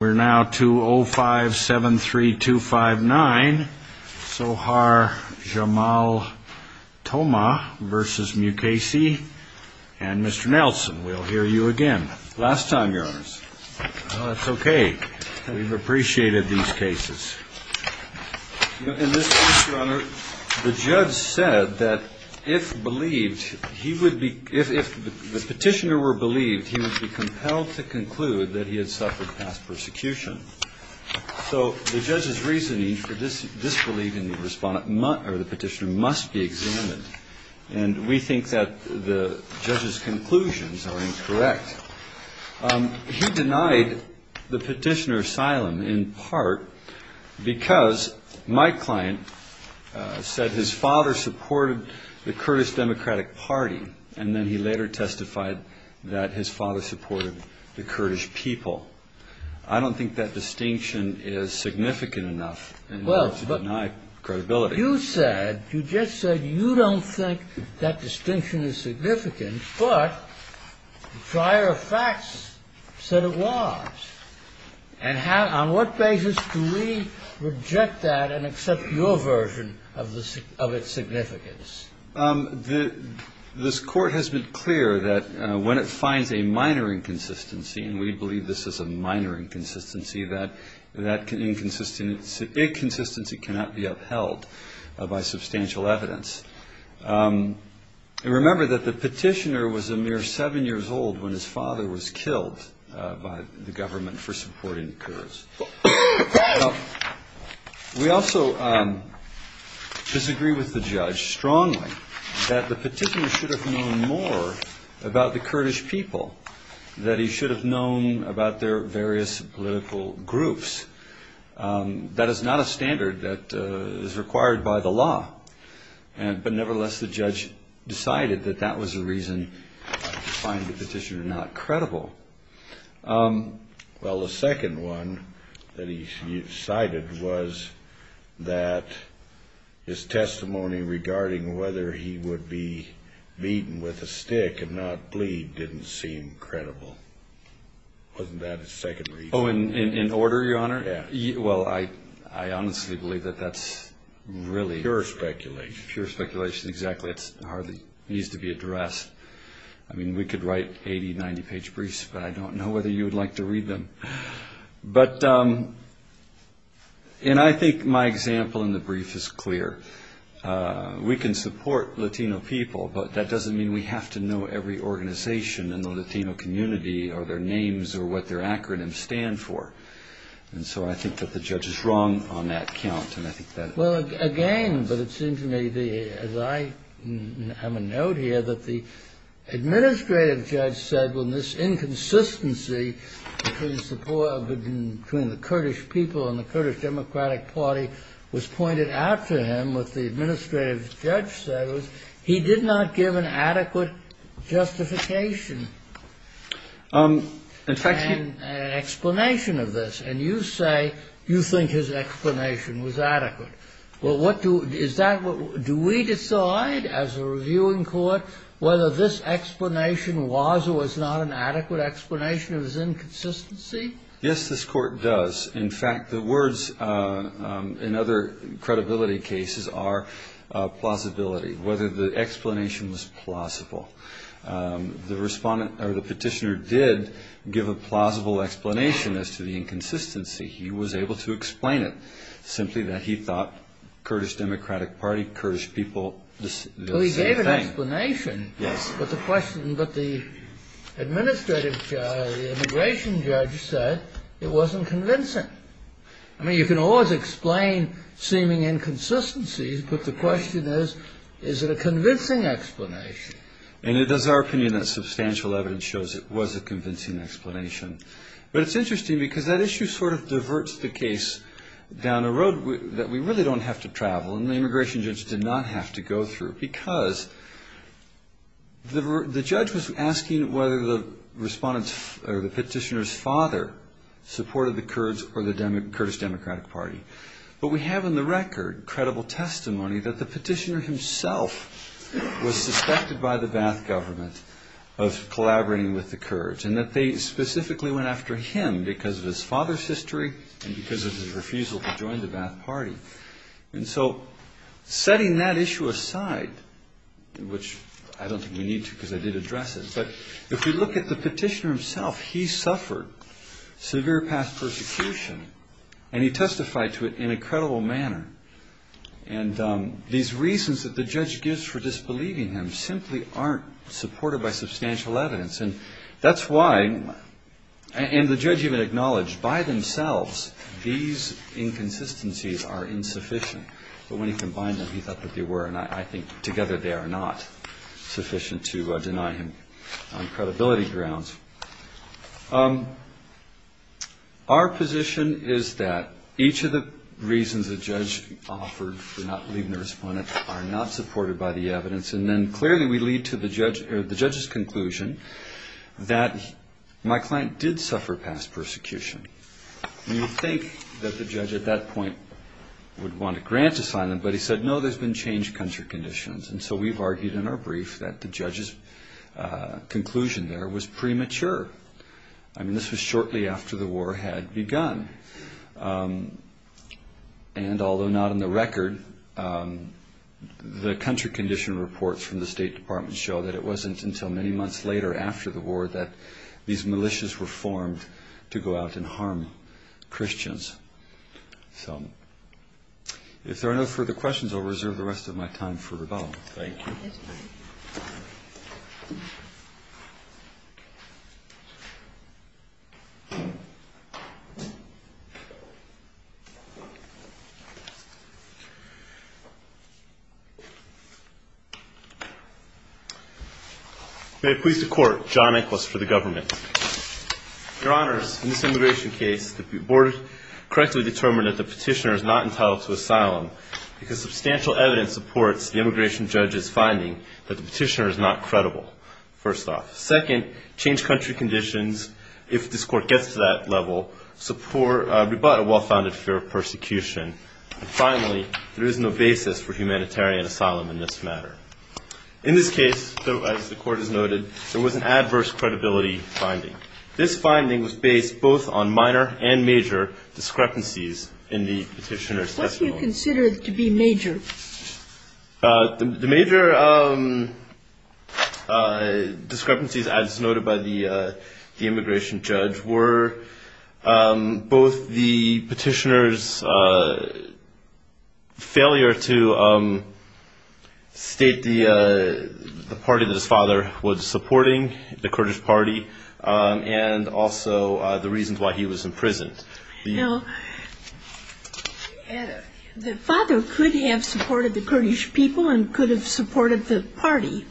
We're now to 0573259, Sohar Jamal Toma v. Mukasey, and Mr. Nelson. We'll hear you again. Last time, Your Honors. Well, that's okay. We've appreciated these cases. In this case, Your Honor, the judge said that if the petitioner were believed, he would be compelled to conclude that he had suffered past persecution. So the judge's reasoning for disbelief in the petitioner must be examined, and we think that the judge's conclusions are incorrect. He denied the petitioner asylum in part because my client said his father supported the Kurdish Democratic Party, and then he later testified that his father supported the Kurdish people. I don't think that distinction is significant enough in order to deny credibility. You just said you don't think that distinction is significant, but prior facts said it was. And on what basis do we reject that and accept your version of its significance? This Court has been clear that when it finds a minor inconsistency, and we believe this is a minor inconsistency, that inconsistency cannot be upheld by substantial evidence. And remember that the petitioner was a mere seven years old when his father was killed by the government for supporting Kurds. We also disagree with the judge strongly that the petitioner should have known more about the Kurdish people, that he should have known about their various political groups. That is not a standard that is required by the law. But nevertheless, the judge decided that that was a reason to find the petitioner not credible. Well, the second one that he cited was that his testimony regarding whether he would be beaten with a stick and not bleed didn't seem credible. Wasn't that his second reason? Oh, in order, Your Honor? Yeah. Well, I honestly believe that that's really... Pure speculation. Pure speculation, exactly. It hardly needs to be addressed. I mean, we could write 80-, 90-page briefs, but I don't know whether you would like to read them. But, and I think my example in the brief is clear. We can support Latino people, but that doesn't mean we have to know every organization in the Latino community, or their names, or what their acronyms stand for. And so I think that the judge is wrong on that count, and I think that... Well, again, but it seems to me, as I have a note here, that the administrative judge said, when this inconsistency between the Kurdish people and the Kurdish Democratic Party was pointed out to him, what the administrative judge said was he did not give an adequate justification and explanation of this. And you say you think his explanation was adequate. Well, what do... Is that what... Do we decide, as a reviewing court, whether this explanation was or was not an adequate explanation of his inconsistency? Yes, this court does. In fact, the words in other credibility cases are plausibility, whether the explanation was plausible. The petitioner did give a plausible explanation as to the inconsistency. He was able to explain it, simply that he thought Kurdish Democratic Party, Kurdish people... Well, he gave an explanation. Yes. But the administrative judge, the immigration judge, said it wasn't convincing. I mean, you can always explain seeming inconsistencies, but the question is, is it a convincing explanation? And it is our opinion that substantial evidence shows it was a convincing explanation. But it's interesting because that issue sort of diverts the case down a road that we really don't have to travel, and the immigration judge did not have to go through because the judge was asking whether the petitioner's father supported the Kurds or the Kurdish Democratic Party. But we have in the record credible testimony that the petitioner himself was suspected by the Ba'ath government of collaborating with the Kurds, and that they specifically went after him because of his father's history and because of his refusal to join the Ba'ath Party. And so setting that issue aside, which I don't think we need to because I did address it, but if you look at the petitioner himself, he suffered severe past persecution, and he testified to it in a credible manner. And these reasons that the judge gives for disbelieving him simply aren't supported by substantial evidence. And that's why, and the judge even acknowledged by themselves these inconsistencies are insufficient. But when he combined them, he thought that they were, and I think together they are not sufficient to deny him on credibility grounds. Our position is that each of the reasons the judge offered for not believing the respondent are not supported by the evidence, and then clearly we lead to the judge's conclusion that my client did suffer past persecution. You would think that the judge at that point would want a grant to sign them, but he said, no, there's been changed country conditions. And so we've argued in our brief that the judge's conclusion there was premature. I mean, this was shortly after the war had begun. And although not in the record, the country condition reports from the State Department show that it wasn't until many months later, after the war, that these militias were formed to go out and harm Christians. So if there are no further questions, I'll reserve the rest of my time for rebuttal. Thank you. May it please the Court, John Nicholas for the Government. Your Honors, in this immigration case, the Board correctly determined that the petitioner is not entitled to asylum, because substantial evidence supports the immigration judge's finding that the petitioner is not credible, first off. Second, changed country conditions, if this Court gets to that level, rebut a well-founded fear of persecution. And finally, there is no basis for humanitarian asylum in this matter. In this case, as the Court has noted, there was an adverse credibility finding. This finding was based both on minor and major discrepancies in the petitioner's testimony. What do you consider to be major? The major discrepancies, as noted by the immigration judge, were both the petitioner's failure to state the party that his father was supporting, the Kurdish party, and also the reasons why he was imprisoned. The father could have supported the Kurdish people and could have supported the party,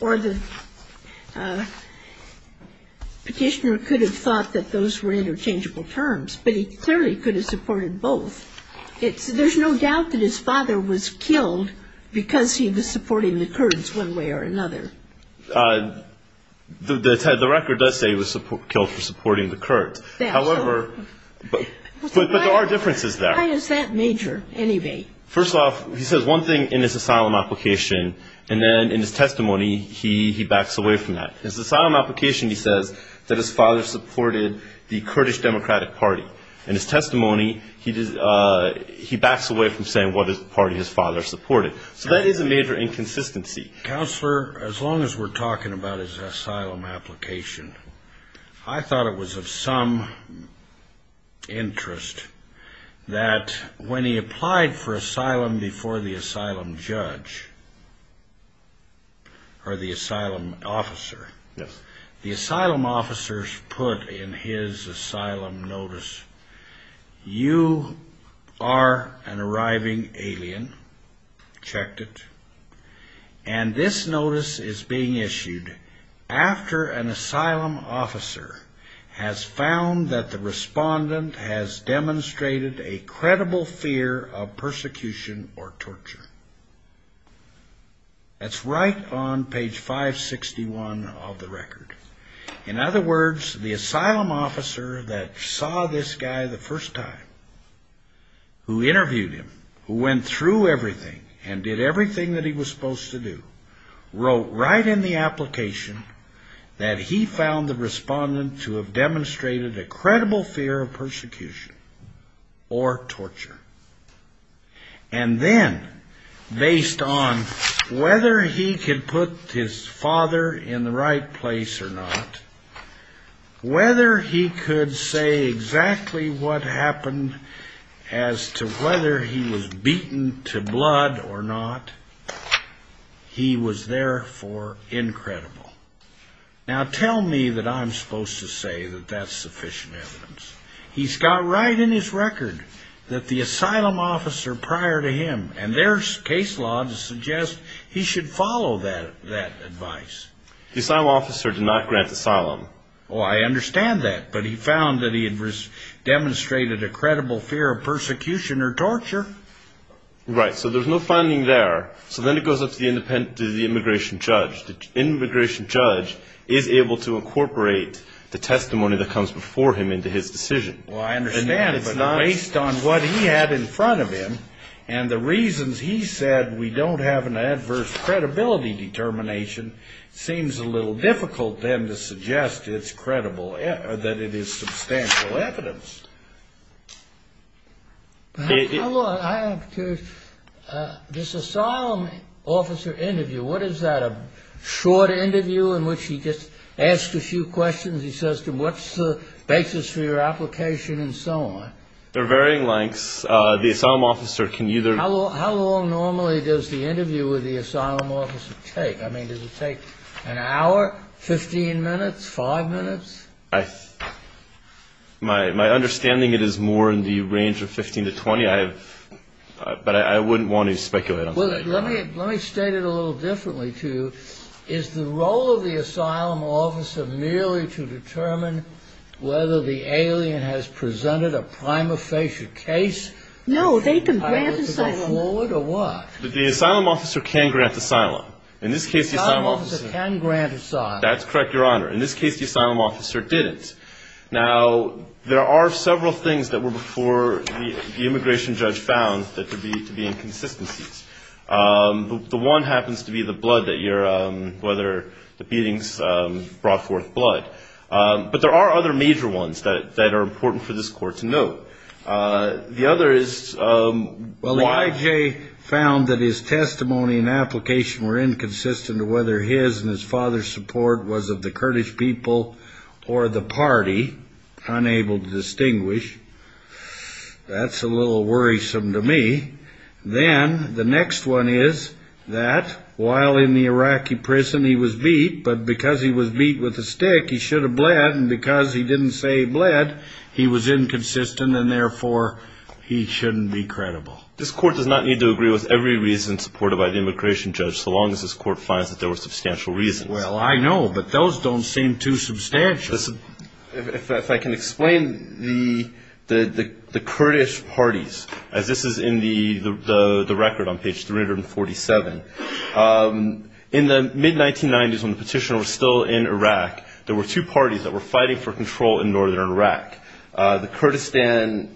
or the petitioner could have thought that those were interchangeable terms, but he clearly could have supported both. There's no doubt that his father was killed because he was supporting the Kurds one way or another. The record does say he was killed for supporting the Kurds. However, there are differences there. First off, he says one thing in his asylum application, and then in his testimony he backs away from that. In his asylum application he says that his father supported the Kurdish Democratic Party. In his testimony, he backs away from saying what party his father supported. So that is a major inconsistency. Counselor, as long as we're talking about his asylum application, I thought it was of some interest that when he applied for asylum before the asylum judge, or the asylum officer, the asylum officers put in his asylum notice, you are an arriving alien, checked it, and this notice is being issued after an asylum officer has found that the respondent has demonstrated a credible fear of persecution or torture. That's right on page 561 of the record. In other words, the asylum officer that saw this guy the first time, who interviewed him, who went through everything, and did everything that he was supposed to do, wrote right in the application that he found the respondent to have demonstrated a credible fear of persecution or torture. And then, based on whether he could put his father in the right place or not, whether he could say exactly what happened as to whether he was beaten to blood or not, he was therefore incredible. Now tell me that I'm supposed to say that that's sufficient evidence. The asylum officer prior to him, and there's case law to suggest he should follow that advice. The asylum officer did not grant asylum. Well, I understand that, but he found that he had demonstrated a credible fear of persecution or torture. Right, so there's no finding there. So then it goes up to the immigration judge. The immigration judge is able to incorporate the testimony that comes before him into his decision. Well, I understand, but based on what he had in front of him, and the reasons he said we don't have an adverse credibility determination, it seems a little difficult then to suggest that it is substantial evidence. I'm curious, this asylum officer interview, what is that, a short interview in which he just asks a few questions, he says to him, what's the basis for your application, and so on? They're varying lengths. How long normally does the interview with the asylum officer take? I mean, does it take an hour, 15 minutes, five minutes? My understanding, it is more in the range of 15 to 20, but I wouldn't want to speculate on that. Let me state it a little differently to you. Is the role of the asylum officer merely to determine whether the alien has presented a prima facie case? No, they can grant asylum. The asylum officer can grant asylum. That's correct, Your Honor. In this case, the asylum officer didn't. Now, there are several things that were before the immigration judge found that there needed to be inconsistencies. The one happens to be the blood, whether the beatings brought forth blood. But there are other major ones that are important for this Court to note. The other is why Jay found that his testimony and application were inconsistent to whether his and his father's support was of the Kurdish people or the party. Unable to distinguish. That's a little worrisome to me. Then the next one is that while in the Iraqi prison, he was beat, but because he was beat with a stick, he should have bled. And because he didn't say bled, he was inconsistent, and therefore he shouldn't be credible. This Court does not need to agree with every reason supported by the immigration judge, so long as this Court finds that there were substantial reasons. Well, I know, but those don't seem too substantial. If I can explain the Kurdish parties, as this is in the record on page 347. In the mid-1990s, when the petitioner was still in Iraq, there were two parties that were fighting for control in northern Iraq. The Kurdistan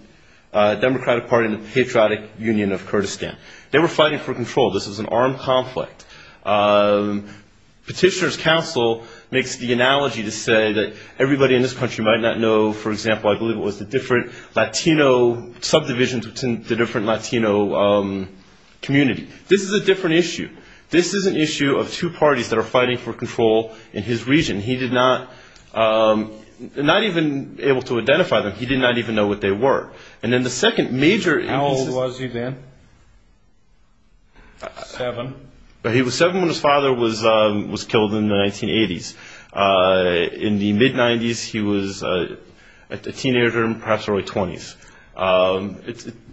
Democratic Party and the Patriotic Union of Kurdistan. They were fighting for control. This was an armed conflict. Petitioner's counsel makes the analogy to say that everybody in this country might not know, for example, I believe it was the different Latino subdivisions within the different Latino community. This is a different issue. This is an issue of two parties that are fighting for control in his region. He did not, not even able to identify them. He did not even know what they were. And then the second major... How old was he then? Seven? He was seven when his father was killed in the 1980s. In the mid-90s, he was a teenager, perhaps early 20s.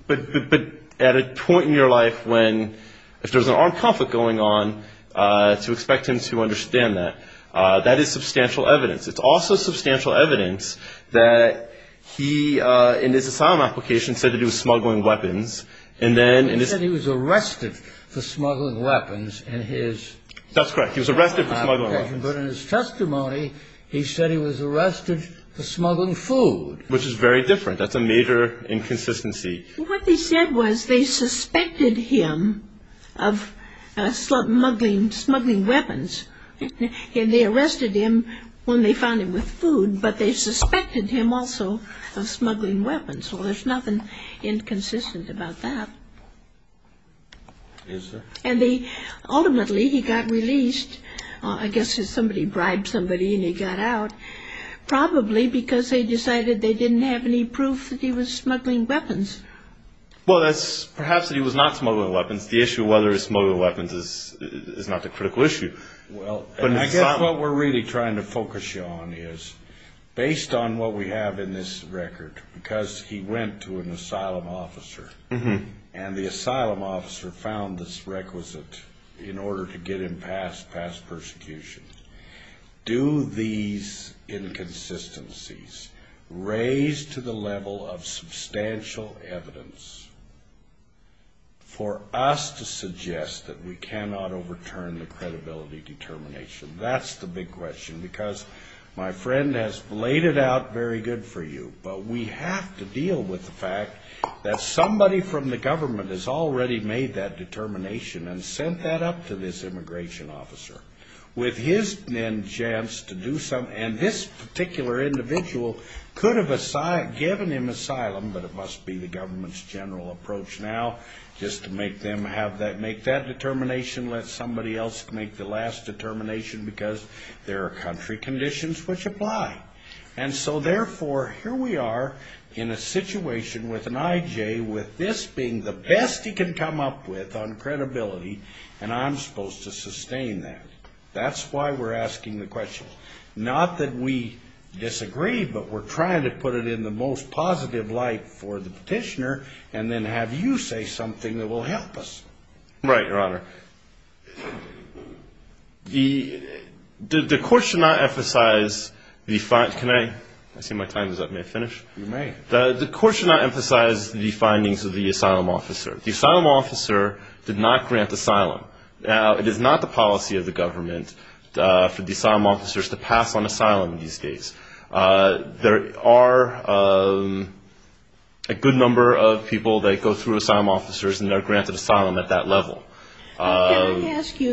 But at a point in your life when, if there's an armed conflict going on, to expect him to understand that, that is substantial evidence. It's also substantial evidence that he, in his asylum application, said that he was smuggling weapons. He said he was arrested for smuggling weapons in his... That's correct. He was arrested for smuggling weapons. But in his testimony, he said he was arrested for smuggling food. Which is very different. That's a major inconsistency. What they said was they suspected him of smuggling weapons. And they arrested him when they found him with food, but they suspected him also of smuggling weapons. Well, there's nothing inconsistent about that. Ultimately, he got released. I guess somebody bribed somebody and he got out. Probably because they decided they didn't have any proof that he was smuggling weapons. Well, that's perhaps that he was not smuggling weapons. The issue of whether he was smuggling weapons is not the critical issue. I guess what we're really trying to focus you on is, based on what we have in this record, because he went to an asylum officer, and the asylum officer found this requisite in order to get him past persecution, do these inconsistencies raise to the level of substantial evidence for us to suggest that we cannot overturn the credibility determination? That's the big question, because my friend has laid it out very good for you, but we have to deal with the fact that somebody from the government has already made that determination and sent that up to this immigration officer. And this particular individual could have given him asylum, but it must be the government's general approach now, just to make that determination, let somebody else make the last determination, because there are country conditions which apply. And so therefore, here we are in a situation with an I.J. with this being the best he can come up with on credibility, and I'm supposed to sustain that. That's why we're asking the question. Not that we disagree, but we're trying to put it in the most positive light for the petitioner, and then have you say something that will help us. Right, Your Honor. The court should not emphasize the findings of the asylum officer. The asylum officer did not grant asylum. Now, it is not the policy of the government for the asylum officers to pass on asylum these days. There are a good number of people that go through asylum officers and are granted asylum at that level. Can I ask you,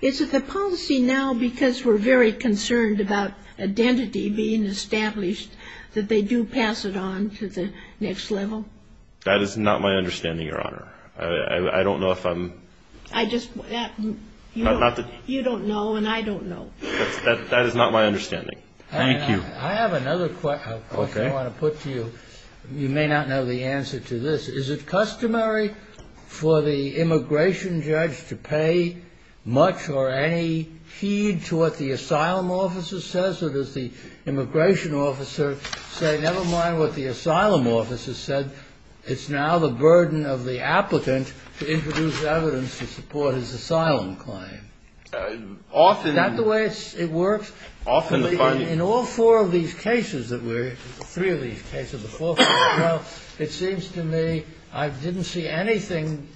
is it the policy now, because we're very concerned about identity being established, that they do pass it on to the next level? That is not my understanding, Your Honor. I don't know if I'm... You don't know, and I don't know. That is not my understanding. Thank you. I have another question I want to put to you. You may not know the answer to this. Is it customary for the immigration judge to pay much or any heed to what the asylum officer says, or does the immigration officer say, never mind what the asylum officer said, it's now the burden of the applicant to introduce evidence to support his asylum claim? Often... Is that the way it works? In all four of these cases, three of these cases, it seems to me I didn't see anything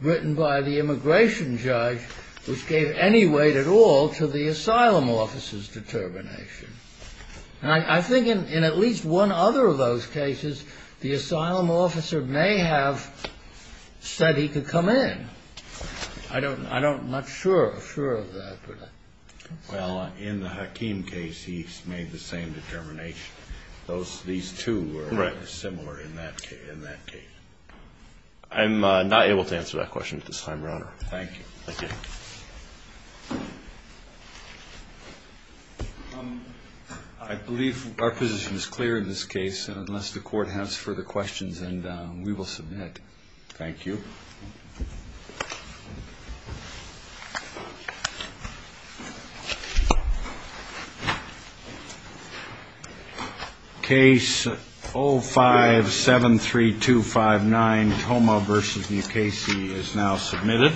written by the immigration judge which gave any weight at all to the asylum officer's determination. And I think in at least one other of those cases, the asylum officer may have said he could come in. I'm not sure of that. Well, in the Hakim case, he made the same determination. These two were similar in that case. I'm not able to answer that question at this time, Your Honor. Thank you. I believe our position is clear in this case, unless the Court has further questions, and we will submit. Thank you. Case 0573259,